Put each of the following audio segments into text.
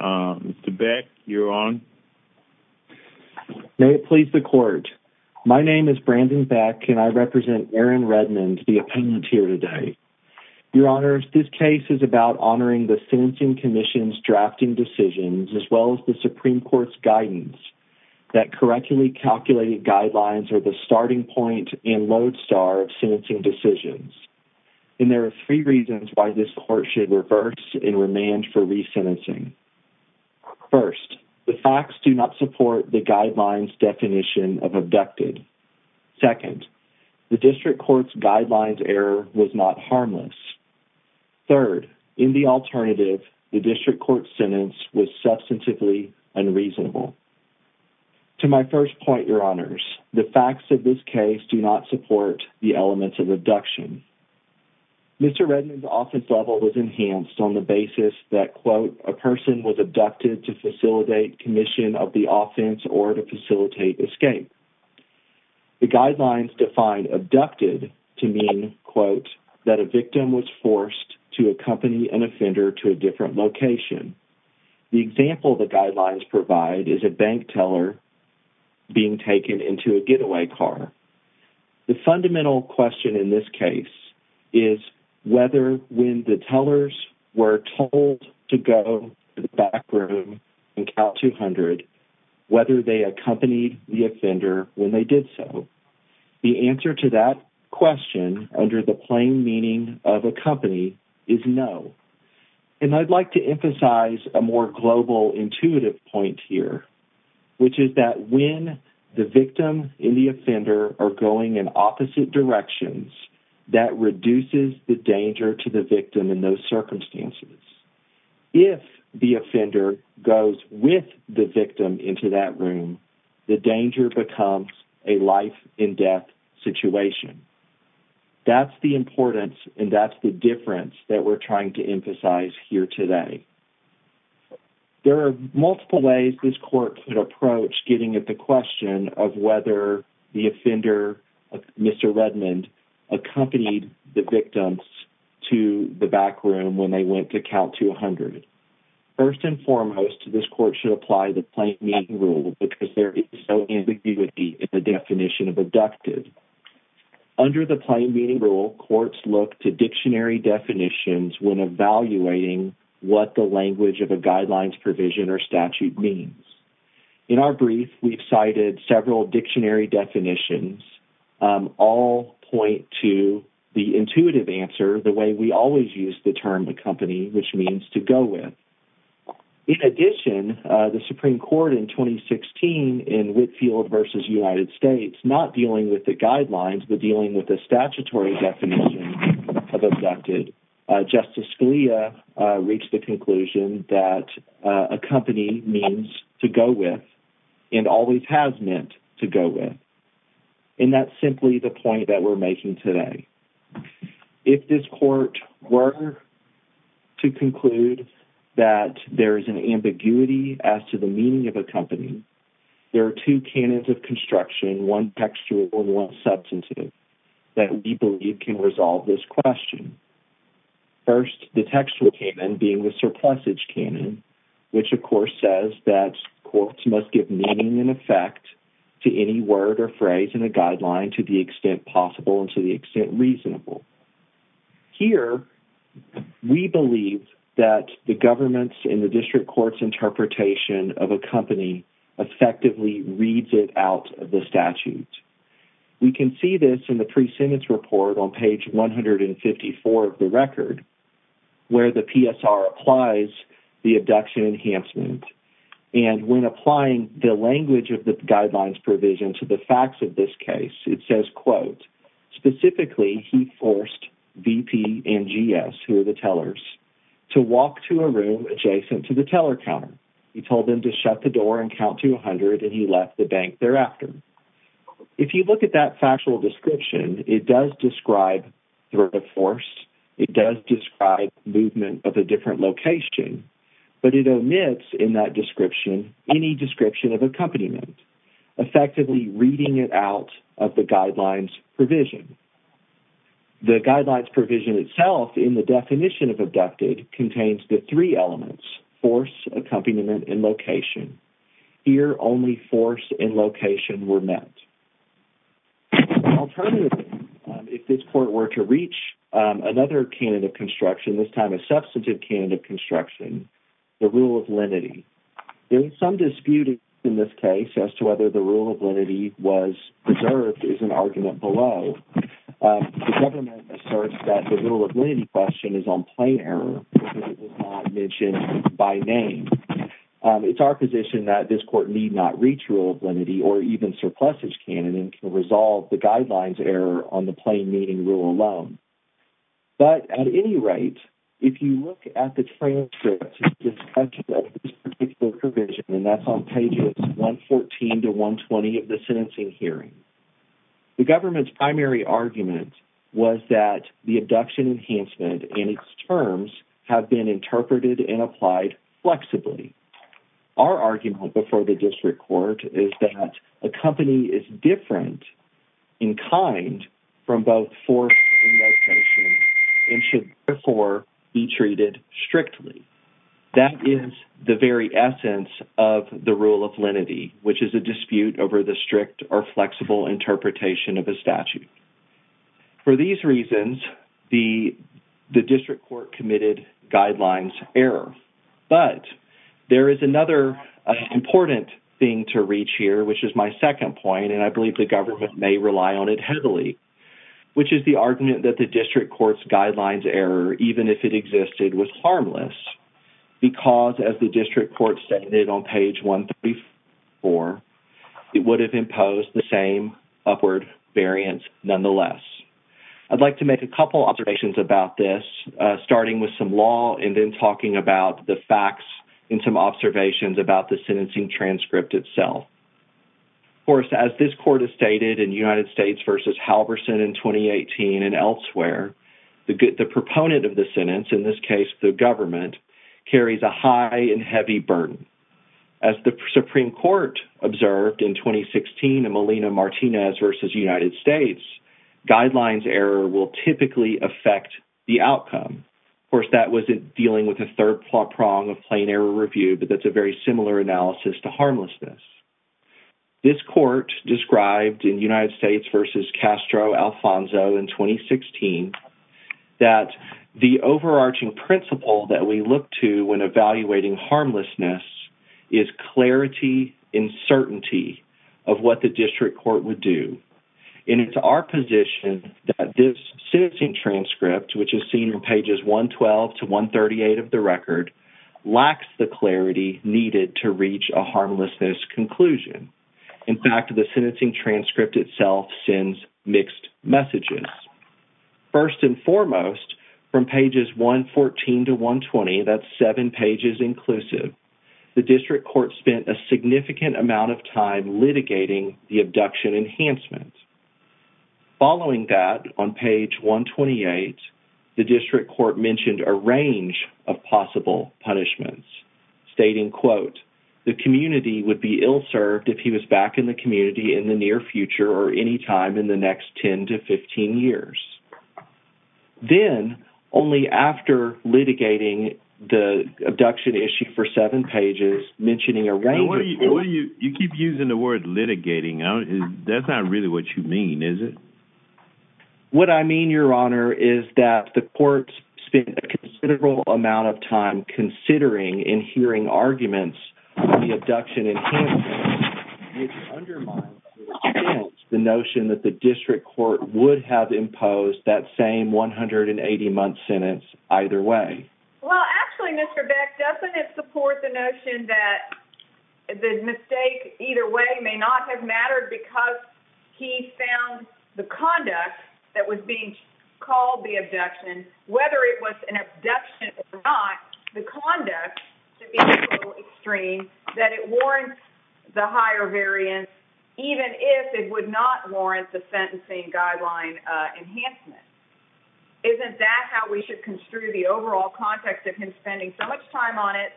Mr. Beck, you're on. May it please the court. My name is Brandon Beck and I represent Aaron Redmond, the opinion here today. Your honors, this case is about honoring the Sentencing Commission's drafting decisions as well as the Supreme Court's guidance that correctly calculated guidelines are the starting point and lodestar of sentencing decisions. And there are three reasons why this court should reverse and remand for resentencing. First, the facts do not support the guidelines definition of abducted. Second, the district court's guidelines error was not harmless. Third, in the alternative, the district court sentence was substantively unreasonable. To my first point, your honors, the facts of this case do not support the elements of abduction. Mr. Redmond's offense level was enhanced on the basis that, quote, a person was abducted to facilitate commission of the offense or to facilitate escape. The guidelines define abducted to mean, quote, that a victim was forced to accompany an offender to a different location. The example the guidelines provide is a bank teller being taken into a getaway car. The fundamental question in this case is whether when the tellers were told to go to the back room in Cal 200, whether they accompanied the offender when they did so. The answer to that question under the plain meaning of accompany is no. And I'd like to emphasize a more global intuitive point here, which is that when the victim and the offender are going in opposite directions, that reduces the danger to the victim in those circumstances. If the offender goes with the That's the importance and that's the difference that we're trying to emphasize here today. There are multiple ways this court could approach getting at the question of whether the offender, Mr. Redmond, accompanied the victims to the back room when they went to Cal 200. First and foremost, this court should apply the plain meaning rule because there is so in the definition of abducted. Under the plain meaning rule, courts look to dictionary definitions when evaluating what the language of a guidelines provision or statute means. In our brief, we've cited several dictionary definitions. All point to the intuitive answer, the way we always use the term accompany, which means to go with. In addition, the Supreme Court in 2016 in Whitfield v. United States, not dealing with the guidelines, but dealing with the statutory definition of abducted, Justice Scalia reached the conclusion that accompany means to go with and always has meant to go with. And that's simply the point that we're making today. If this court were to conclude that there is an ambiguity as to the meaning of accompany, there are two canons of construction, one textual and one substantive that we believe can resolve this question. First, the textual canon being the surplusage canon, which of course says that courts must give meaning and effect to any word or phrase in a guideline to the extent possible and to the extent reasonable. Here, we believe that the government's and the district court's interpretation of accompany effectively reads it out of the statute. We can see this in the pre-sentence report on page 154 of the record, where the PSR applies the abduction enhancement. And when applying the language of the guidelines provision to the facts of this case, it says, specifically, he forced VP and GS, who are the tellers, to walk to a room adjacent to the teller counter. He told them to shut the door and count to 100, and he left the bank thereafter. If you look at that factual description, it does describe force, it does describe movement of a different location, but it omits in that description any description of accompaniment, effectively reading it out of the guidelines provision. The guidelines provision itself in the definition of abducted contains the three elements, force, accompaniment, and location. Here, only force and location were met. Alternatively, if this court were to reach another canon of construction, this time a substantive canon of construction, the rule of lenity. There is some disputing in this case as to whether the rule of lenity was preserved is an argument below. The government asserts that the rule of lenity question is on plain error because it was not mentioned by name. It's our position that this court need not reach rule of lenity or even surplusage canon and can resolve the guidelines error on the plain meaning rule alone. But at any rate, if you look at the transcripts and that's on pages 114 to 120 of the sentencing hearing, the government's primary argument was that the abduction enhancement in its terms have been interpreted and applied flexibly. Our argument before the district court is that a company is different in kind from both force and location and should therefore be treated strictly. That is the very essence of the rule of lenity, which is a dispute over the strict or flexible interpretation of a statute. For these reasons, the district court committed guidelines error. But there is another important thing to reach here, which is my second point, and I believe the government may rely on it heavily, which is the argument that the district court's guidelines error, even if it existed, was harmless because as the district court stated on page 134, it would have imposed the same upward variance nonetheless. I'd like to make a couple observations about this, starting with some law and then talking about the facts and some observations about the sentencing transcript itself. Of course, as this court has stated in United States v. Halverson in 2018 and elsewhere, the proponent of the sentence, in this case the government, carries a high and heavy burden. As the Supreme Court observed in 2016 in Molina-Martinez v. United States, guidelines error will typically affect the outcome. Of course, that was dealing with a third prong of plain error review, but that's a very similar analysis to harmlessness. This court described in United States v. Castro in 2016 that the overarching principle that we look to when evaluating harmlessness is clarity and certainty of what the district court would do, and it's our position that this sentencing transcript, which is seen in pages 112 to 138 of the record, lacks the clarity needed to reach a harmlessness conclusion. In fact, the sentencing transcript itself sends mixed messages. First and foremost, from pages 114 to 120, that's seven pages inclusive, the district court spent a significant amount of time litigating the abduction enhancement. Following that, on page 128, the district court mentioned a range of possible punishments, stating, quote, the community would be ill served if he was back in the community in the near future or any time in the next 10 to 15 years. Then, only after litigating the abduction issue for seven pages, mentioning a range of... You keep using the word litigating. That's not really what you mean, is it? What I mean, your honor, is that the court spent a considerable amount of time considering and hearing arguments on the abduction enhancement. The notion that the district court would have imposed that same 180-month sentence either way. Well, actually, Mr. Beck, doesn't it support the notion that the mistake either way may not have mattered because he found the conduct that was being called the abduction, whether it was an abduction or not, the conduct should be a little extreme, that it warrants the higher variance even if it would not warrant the sentencing guideline enhancement. Isn't that how we should construe the overall context of him spending so much time on it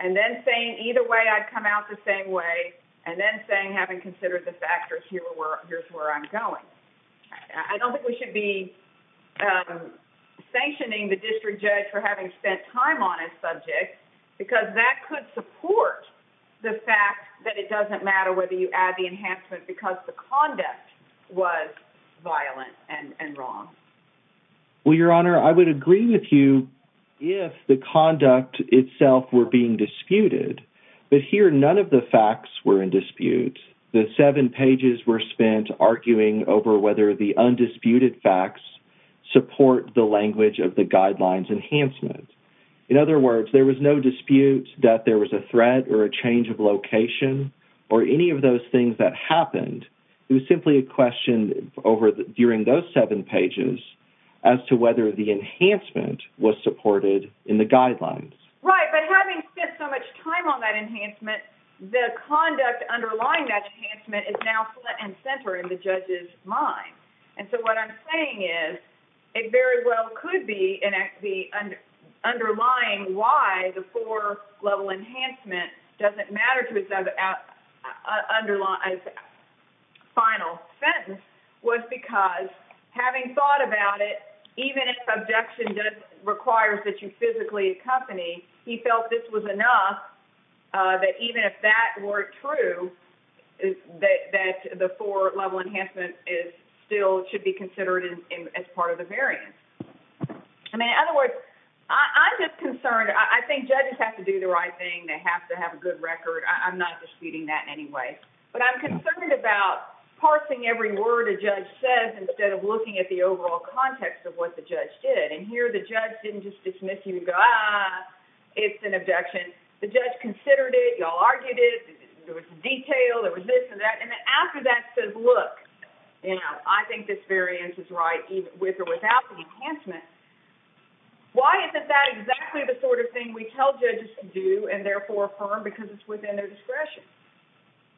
and then saying, either way, I'd come out the same way, and then saying, having considered the factors, here's where I'm going. I don't think we should be sanctioning the district judge for having spent time on his subject because that could support the fact that it doesn't matter whether you add the enhancement because the conduct was violent and wrong. Well, your honor, I would agree with you if the conduct itself were being disputed, but here none of the facts were in dispute. The seven pages were spent arguing over whether the enhancement, in other words, there was no dispute that there was a threat or a change of location or any of those things that happened. It was simply a question during those seven pages as to whether the enhancement was supported in the guidelines. Right, but having spent so much time on that enhancement, the conduct underlying that enhancement is now front and center in the judge's mind. And so what I'm saying is, it very well could be underlying why the four-level enhancement doesn't matter to his final sentence was because having thought about it, even if objection requires that you physically accompany, he felt this was enough that even if that weren't true, that the four-level enhancement still should be considered as part of the variance. I mean, in other words, I'm just concerned. I think judges have to do the right thing. They have to have a good record. I'm not disputing that in any way. But I'm concerned about parsing every word a judge says instead of looking at the overall context of what the judge did. And here the judge didn't just dismiss you and go, ah, it's an objection. The judge considered it. Y'all argued it. There was detail. There was this and that. And then after that says, look, I think this variance is right with or without the enhancement. Why isn't that exactly the sort of thing we tell judges to do and therefore affirm because it's within their discretion?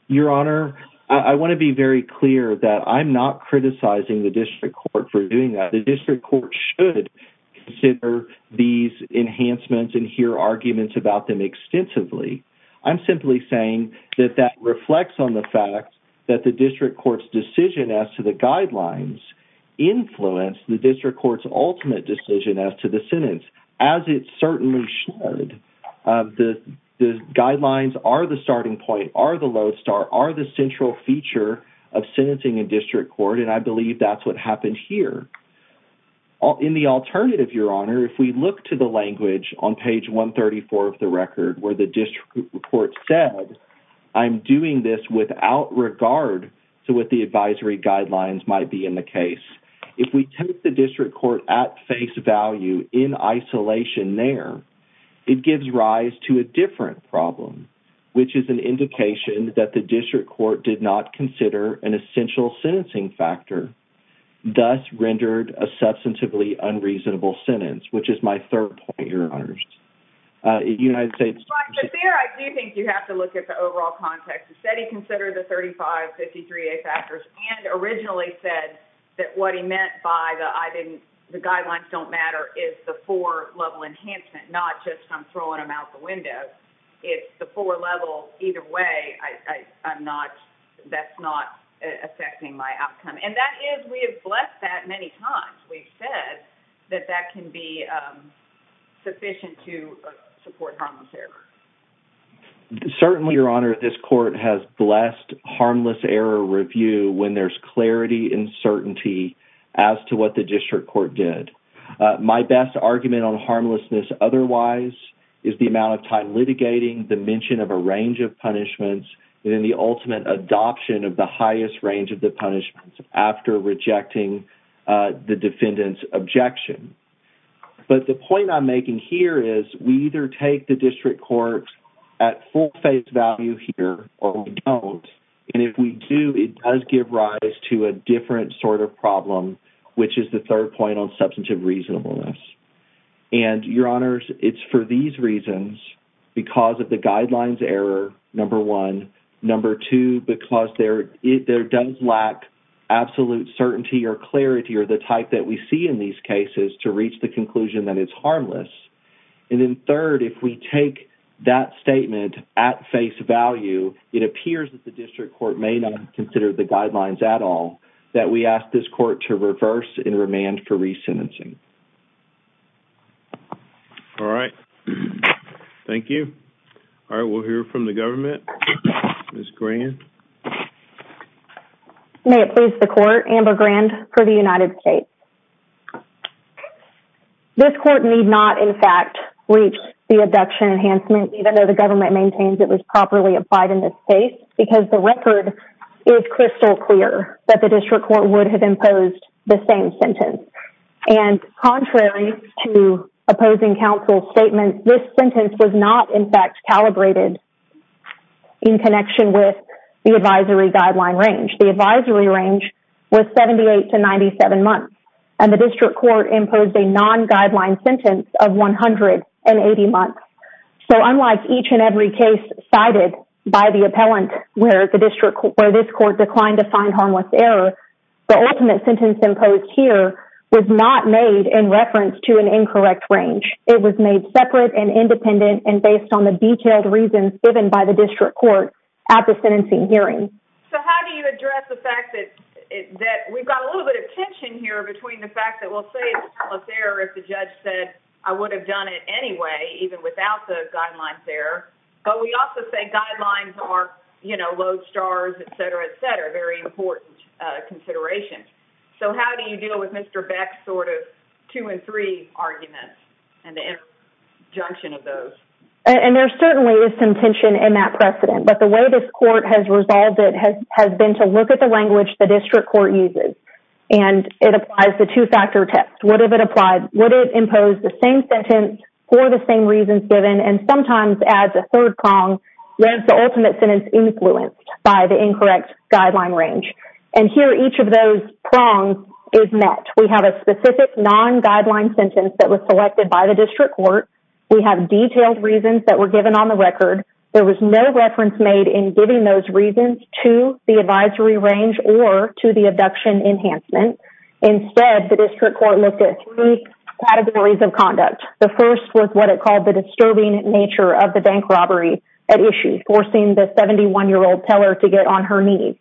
Your Honor, I want to be very clear that I'm not criticizing the district court for doing that. The district court should consider these enhancements and hear arguments about them extensively. I'm simply saying that that reflects on the fact that the district court's decision as to the guidelines influenced the district court's ultimate decision as to the sentence, as it certainly should. The guidelines are the starting point, are the low start, are the central feature of sentencing in district court. And I believe that's what happened here. In the alternative, Your Honor, if we look to the language on page 134 of the record where the district court said, I'm doing this without regard to what the advisory guidelines might be in the case, if we take the district court at face value in isolation there, it gives rise to a different problem, which is an indication that the district court did not consider an essential sentencing factor, thus rendered a substantively unreasonable sentence, which is my third point, Your Honor. But there I do think you have to look at the overall context. He said he considered the 3553A factors and originally said that what he meant by the guidelines don't matter is the four-level enhancement, not just I'm throwing them out the window. It's the four levels, either way, I'm not, that's not affecting my outcome. And that is, we have blessed that many times. We've said that that can be sufficient to support harmless error. Certainly, Your Honor, this court has blessed harmless error review when there's clarity and certainty as to what the district court did. My best argument on harmlessness otherwise is the amount of time the mention of a range of punishments and then the ultimate adoption of the highest range of the punishments after rejecting the defendant's objection. But the point I'm making here is we either take the district courts at full face value here or we don't. And if we do, it does give rise to a different sort of problem, which is the third point on substantive reasonableness. And, Your Honors, it's for these reasons, because of the guidelines error, number one, number two, because there does lack absolute certainty or clarity or the type that we see in these cases to reach the conclusion that it's harmless. And then third, if we take that statement at face value, it appears that the district court may not consider the guidelines at all that we ask this court to reverse and remand for re-sentencing. All right. Thank you. All right. We'll hear from the government. Ms. Grand. May it please the court, Amber Grand for the United States. This court need not, in fact, reach the abduction enhancement, even though the government maintains it was properly applied in this case, because the record is crystal clear that the district court would have imposed the same sentence. And contrary to opposing counsel's statement, this sentence was not, in fact, calibrated in connection with the advisory guideline range. The advisory range was 78 to 97 months, and the district court imposed a non-guideline sentence of 180 months. So unlike each and every case cited by the appellant where the district, where this court declined to find harmless error, the ultimate sentence imposed here was not made in reference to an incorrect range. It was made separate and independent, and based on the detailed reasons given by the district court at the sentencing hearing. So how do you address the fact that we've got a little bit of tension here between the fact that we'll say it's harmless error if the judge said I would have done it anyway, even without the guidelines there. But we also say guidelines are, you know, lodestars, et cetera, et cetera, very important considerations. So how do you deal with Mr. Beck's sort of two and three arguments and the interjunction of those? And there certainly is some tension in that precedent, but the way this court has resolved it has been to look at the language the district court uses, and it applies the two-factor test. What if it applied, would it impose the same sentence for the same reasons given, and sometimes adds a third prong, where the ultimate sentence influenced by the incorrect guideline range. And here each of those prongs is met. We have a specific non-guideline sentence that was selected by the district court. We have detailed reasons that were given on the record. There was no reference made in giving those reasons to the advisory range or to the abduction enhancement. Instead, the district court looked at three categories of conduct. The first was what it called the disturbing nature of the bank robbery at issue, forcing the 71-year-old teller to get on her knees,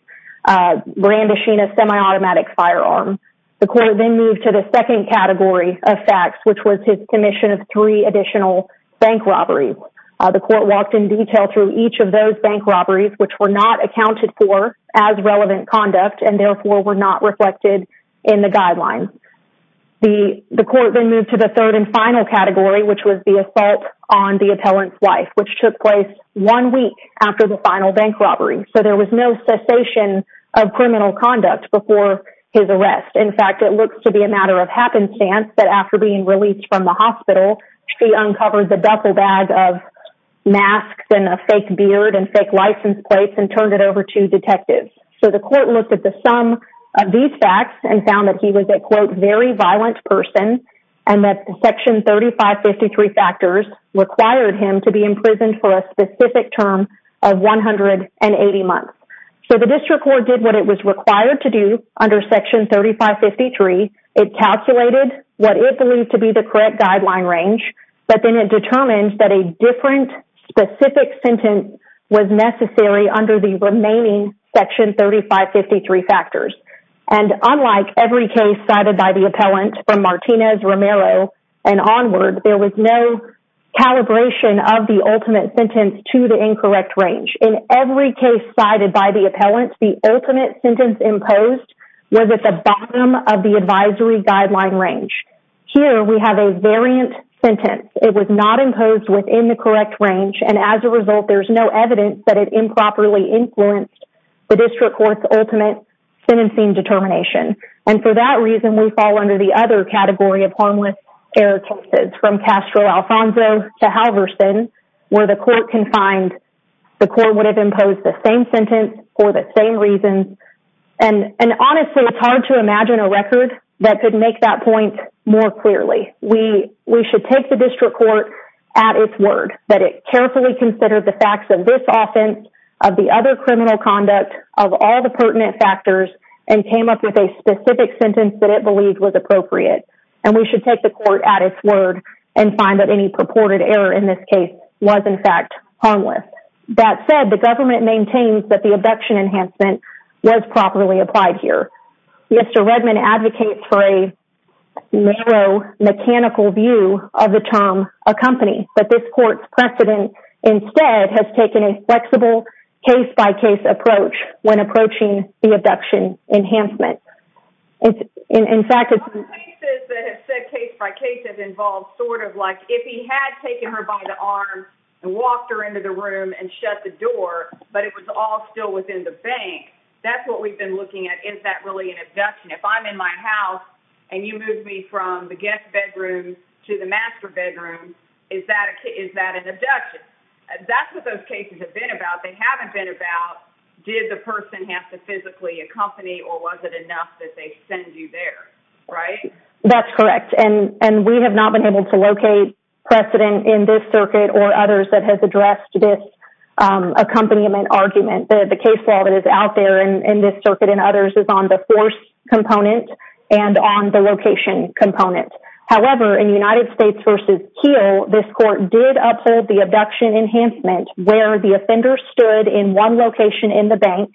brandishing a semi-automatic firearm. The court then moved to the second category of facts, which was his commission of three additional bank robberies. The court walked in detail through each of those bank robberies, and found that the bank robberies were not accounted for as relevant conduct and therefore were not reflected in the guideline. The court then moved to the third and final category, which was the assault on the appellant's wife, which took place one week after the final bank robbery. So there was no cessation of criminal conduct before his arrest. In fact, it looks to be a matter of happenstance that after being released from the hospital, she uncovered the duffel bag of masks and a fake beard and fake license plates and turned it over to detectives. So the court looked at the sum of these facts and found that he was a, quote, very violent person, and that section 3553 factors required him to be imprisoned for a specific term of 180 months. So the district court did what it was required to do under section 3553. It calculated what it believed to be the correct guideline range, but then it determined that a different specific sentence was necessary under the remaining section 3553 factors. And unlike every case cited by the appellant from Martinez, Romero, and onward, there was no calibration of the ultimate sentence to the incorrect range. In every case cited by the appellant, the ultimate sentence imposed was at bottom of the advisory guideline range. Here we have a variant sentence, it was not imposed within the correct range. And as a result, there's no evidence that it improperly influenced the district court's ultimate sentencing determination. And for that reason, we fall under the other category of harmless error cases from Castro Alfonso to Halverson, where the court can find the court would have imposed the same sentence for the same reasons. And honestly, it's hard to imagine a record that could make that point more clearly. We should take the district court at its word that it carefully considered the facts of this offense, of the other criminal conduct, of all the pertinent factors, and came up with a specific sentence that it believed was appropriate. And we should take the court at its word and find that any purported error in this case was in fact harmless. That said, the government maintains that the abduction enhancement was properly applied here. Mr. Redmond advocates for a narrow mechanical view of the term accompany, but this court's precedent instead has taken a flexible case-by-case approach when approaching the abduction enhancement. In fact, cases that have said case-by-case have involved sort of like if he had taken her by the arm, but it was all still within the bank, that's what we've been looking at. Is that really an abduction? If I'm in my house and you moved me from the guest bedroom to the master bedroom, is that an abduction? That's what those cases have been about. They haven't been about did the person have to physically accompany or was it enough that they sent you there, right? That's correct. And we have not been able to locate precedent in this circuit or others that has addressed this accompaniment argument. The case law that is out there in this circuit and others is on the force component and on the location component. However, in United States versus Keogh, this court did uphold the abduction enhancement where the offender stood in one location in the bank,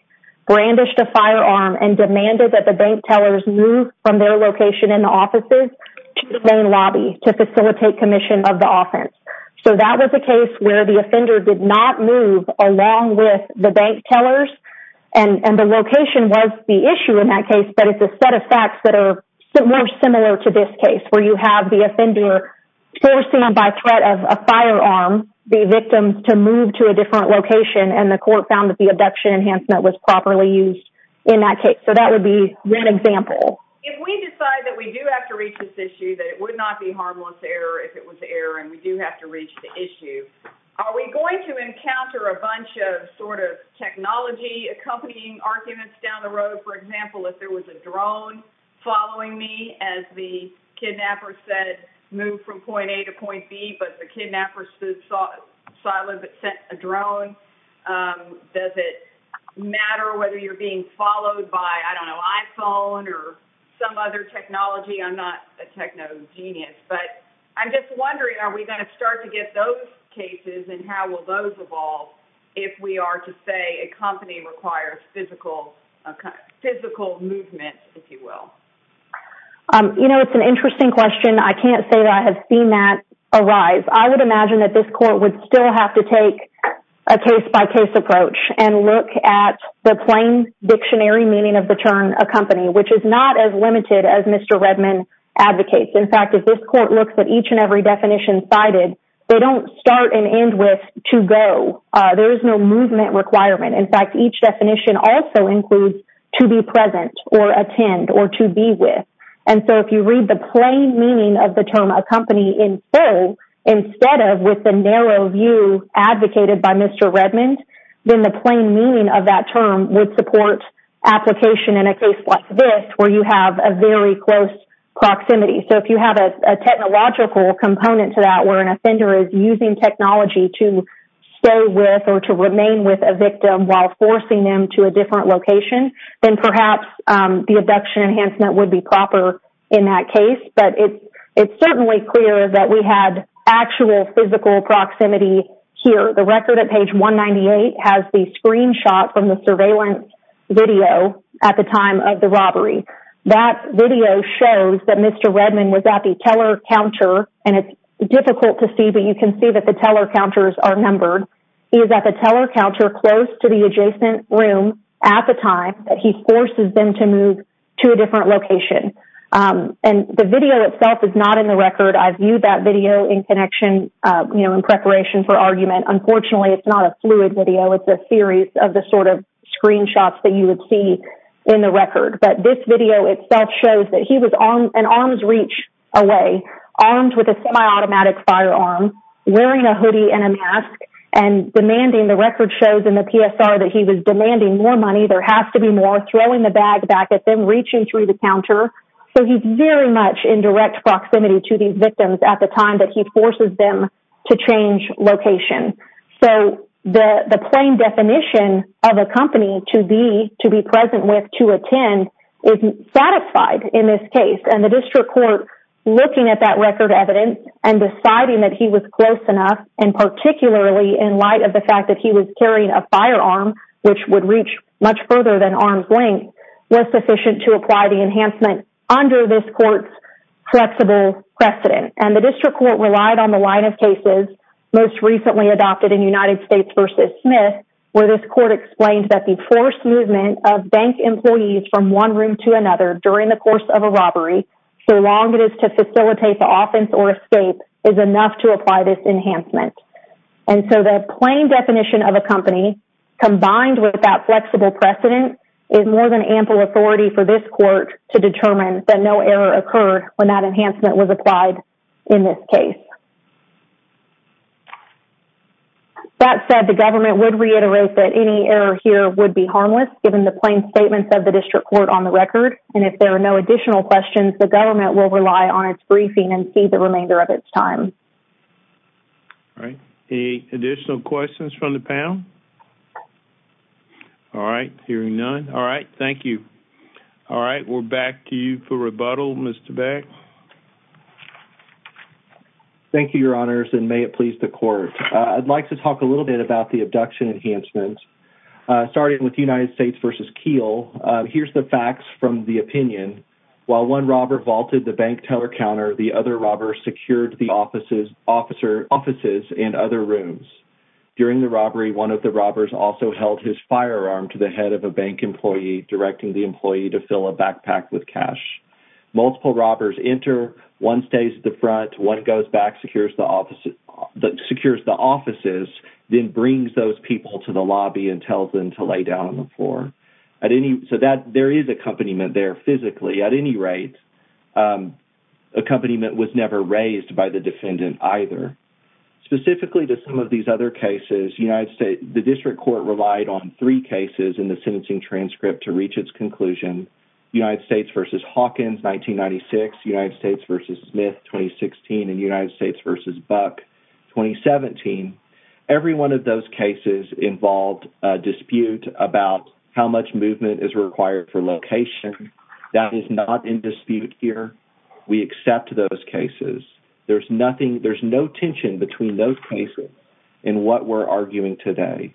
brandished a firearm and demanded that the bank tellers move from their location in the offices to the main lobby to facilitate commission of the offense. So that was a case where the offender did not move along with the bank tellers and the location was the issue in that case, but it's a set of facts that are more similar to this case where you have the offender forcing him by threat of a firearm, the victim to move to a different location and the court found that the abduction enhancement was properly used in that case. So that would be one example. If we decide that we do have to reach this issue, that it would not be harmless error and we do have to reach the issue, are we going to encounter a bunch of sort of technology accompanying arguments down the road? For example, if there was a drone following me as the kidnapper said move from point A to point B, but the kidnapper stood silent but sent a drone, does it matter whether you're being followed by, I don't know, iPhone or some other technology? I'm not a techno genius, but I'm just wondering, are we going to start to get those cases and how will those evolve if we are to say a company requires physical movement, if you will? You know, it's an interesting question. I can't say that I have seen that arise. I would imagine that this court would still have to take a case by case approach and look at the plain dictionary meaning of the term accompany, which is not as limited as Mr. Redmond advocates. In fact, if this court looks at each and every definition cited, they don't start and end with to go. There is no movement requirement. In fact, each definition also includes to be present or attend or to be with. And so if you read the plain meaning of the term accompany in full instead of with the narrow view advocated by Mr. Redmond, then the plain meaning of that term would support application in a case like this where you have a very close proximity. So if you have a technological component to that where an offender is using technology to stay with or to remain with a victim while forcing them to a different location, then perhaps the abduction enhancement would be proper in that case. But it's certainly clear that we had actual physical proximity here. The record at page 198 has the screenshot from the surveillance video at the time of the robbery. That video shows that Mr. Redmond was at the teller counter and it's difficult to see, but you can see that the teller counters are numbered. He is at the teller counter close to the adjacent room at the time that he forces them to move to a different location. And the video itself is not in the record. I've viewed that video in connection, you know, in preparation for argument. Unfortunately, it's not a fluid video. It's a series of the sort of screenshots that you would see in the record. But this video itself shows that he was on an arm's reach away, armed with a semi-automatic firearm, wearing a hoodie and a mask and demanding, the record shows in the PSR that he was demanding more money. There has to be more, throwing the bag back at them, reaching through the counter. So he's very much in direct proximity to these victims at the time he forces them to change location. So the plain definition of a company to be present with, to attend, isn't satisfied in this case. And the district court, looking at that record evidence and deciding that he was close enough, and particularly in light of the fact that he was carrying a firearm, which would reach much further than arm's length, was sufficient to rely on the line of cases most recently adopted in United States versus Smith, where this court explained that the forced movement of bank employees from one room to another during the course of a robbery, so long it is to facilitate the offense or escape, is enough to apply this enhancement. And so the plain definition of a company combined with that flexible precedent is more than ample authority for this court to determine that no error occurred when that was done. That said, the government would reiterate that any error here would be harmless, given the plain statements of the district court on the record. And if there are no additional questions, the government will rely on its briefing and see the remainder of its time. All right. Any additional questions from the panel? All right. Hearing none. All right. Thank you. All right. We're back to you for rebuttal, Mr. Beck. Thank you, Your Honors, and may it please the court. I'd like to talk a little bit about the abduction enhancement. Starting with United States versus Keel, here's the facts from the opinion. While one robber vaulted the bank teller counter, the other robber secured the offices and other rooms. During the robbery, one of the robbers also held his firearm to the head of a bank employee, directing the employee to fill a backpack with cash. Multiple robbers enter. One stays at the bank, secures the offices, then brings those people to the lobby and tells them to lay down on the floor. So there is accompaniment there physically. At any rate, accompaniment was never raised by the defendant either. Specifically to some of these other cases, the district court relied on three cases in the sentencing transcript to reach its conclusion, United States versus Buck 2017. Every one of those cases involved a dispute about how much movement is required for location. That is not in dispute here. We accept those cases. There's no tension between those cases and what we're arguing today.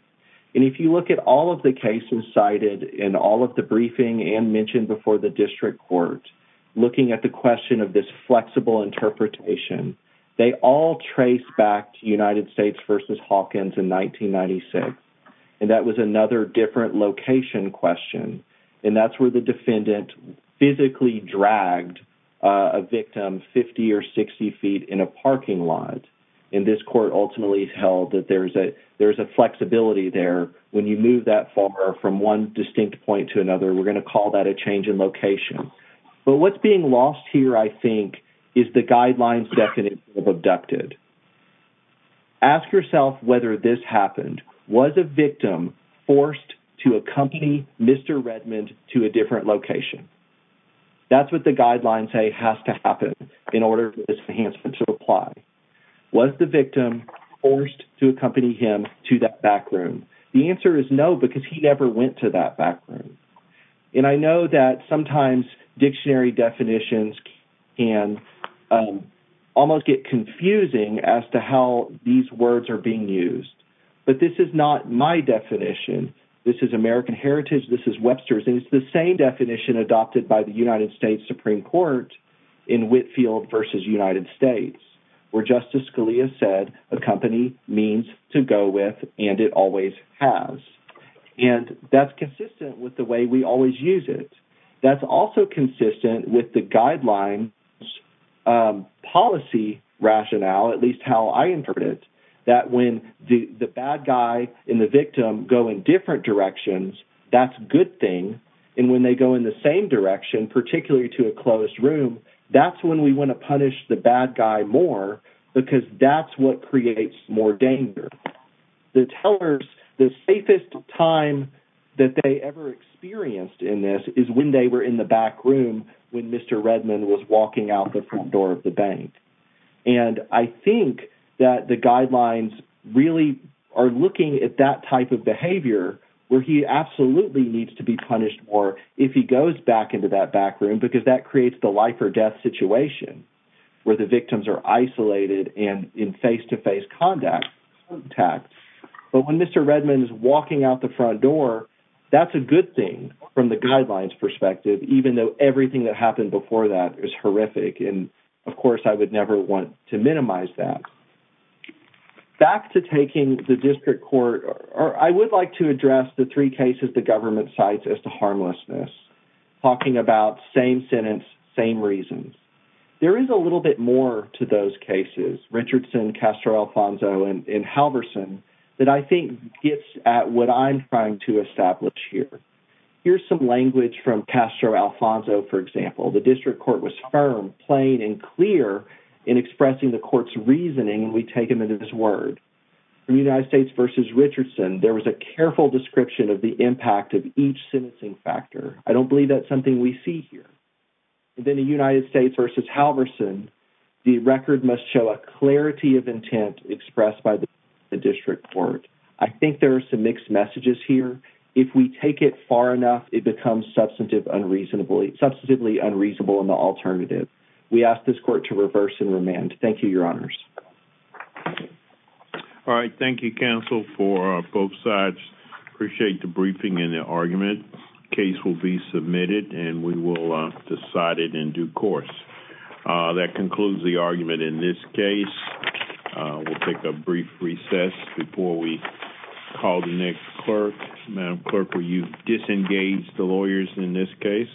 And if you look at all of the cases cited in all of the briefing and mentioned before the district court, looking at the question of this flexible interpretation, they all trace back to United States versus Hawkins in 1996. And that was another different location question. And that's where the defendant physically dragged a victim 50 or 60 feet in a parking lot. And this court ultimately held that there's a flexibility there when you move that far from one distinct point to another. We're going to call that a change in location. But what's being lost here, I think, is the guidelines the defendant abducted. Ask yourself whether this happened. Was a victim forced to accompany Mr. Redmond to a different location? That's what the guidelines say has to happen in order for this enhancement to apply. Was the victim forced to accompany him to that back room? The answer is no, because he never went to that back room. And I know that sometimes dictionary definitions can almost get confusing as to how these words are being used. But this is not my definition. This is American Heritage. This is Webster's. And it's the same definition adopted by the United States Supreme Court in Whitfield versus United States where Justice Scalia said accompany means to go with and it is consistent with the way we always use it. That's also consistent with the guidelines policy rationale, at least how I interpret it, that when the bad guy and the victim go in different directions, that's a good thing. And when they go in the same direction, particularly to a closed room, that's when we want to punish the bad guy more because that's what creates more danger. The tellers, the safest time that they ever experienced in this is when they were in the back room when Mr. Redmond was walking out the front door of the bank. And I think that the guidelines really are looking at that type of behavior where he absolutely needs to be punished more if he goes back into that back room because that creates the life or death situation where the contact. But when Mr. Redmond is walking out the front door, that's a good thing from the guidelines perspective, even though everything that happened before that is horrific. And, of course, I would never want to minimize that. Back to taking the district court, I would like to address the three cases the government cites as to harmlessness, talking about same sentence, same reasons. There is a little bit more to those cases, Richardson, Castro, Alfonso, and Halverson, that I think gets at what I'm trying to establish here. Here's some language from Castro, Alfonso, for example. The district court was firm, plain, and clear in expressing the court's reasoning, and we take them into this word. From United States v. Richardson, there was a careful description of the impact of each sentencing factor. I don't believe that's something we see here. And then the United States v. Alfonso, there was clarity of intent expressed by the district court. I think there are some mixed messages here. If we take it far enough, it becomes substantively unreasonable in the alternative. We ask this court to reverse and remand. Thank you, your honors. All right. Thank you, counsel, for both sides. Appreciate the briefing and the argument. Case will be submitted, and we will decide it in due course. That concludes the argument in this case. We'll take a brief recess before we call the next clerk. Madam clerk, will you disengage the lawyers in this case?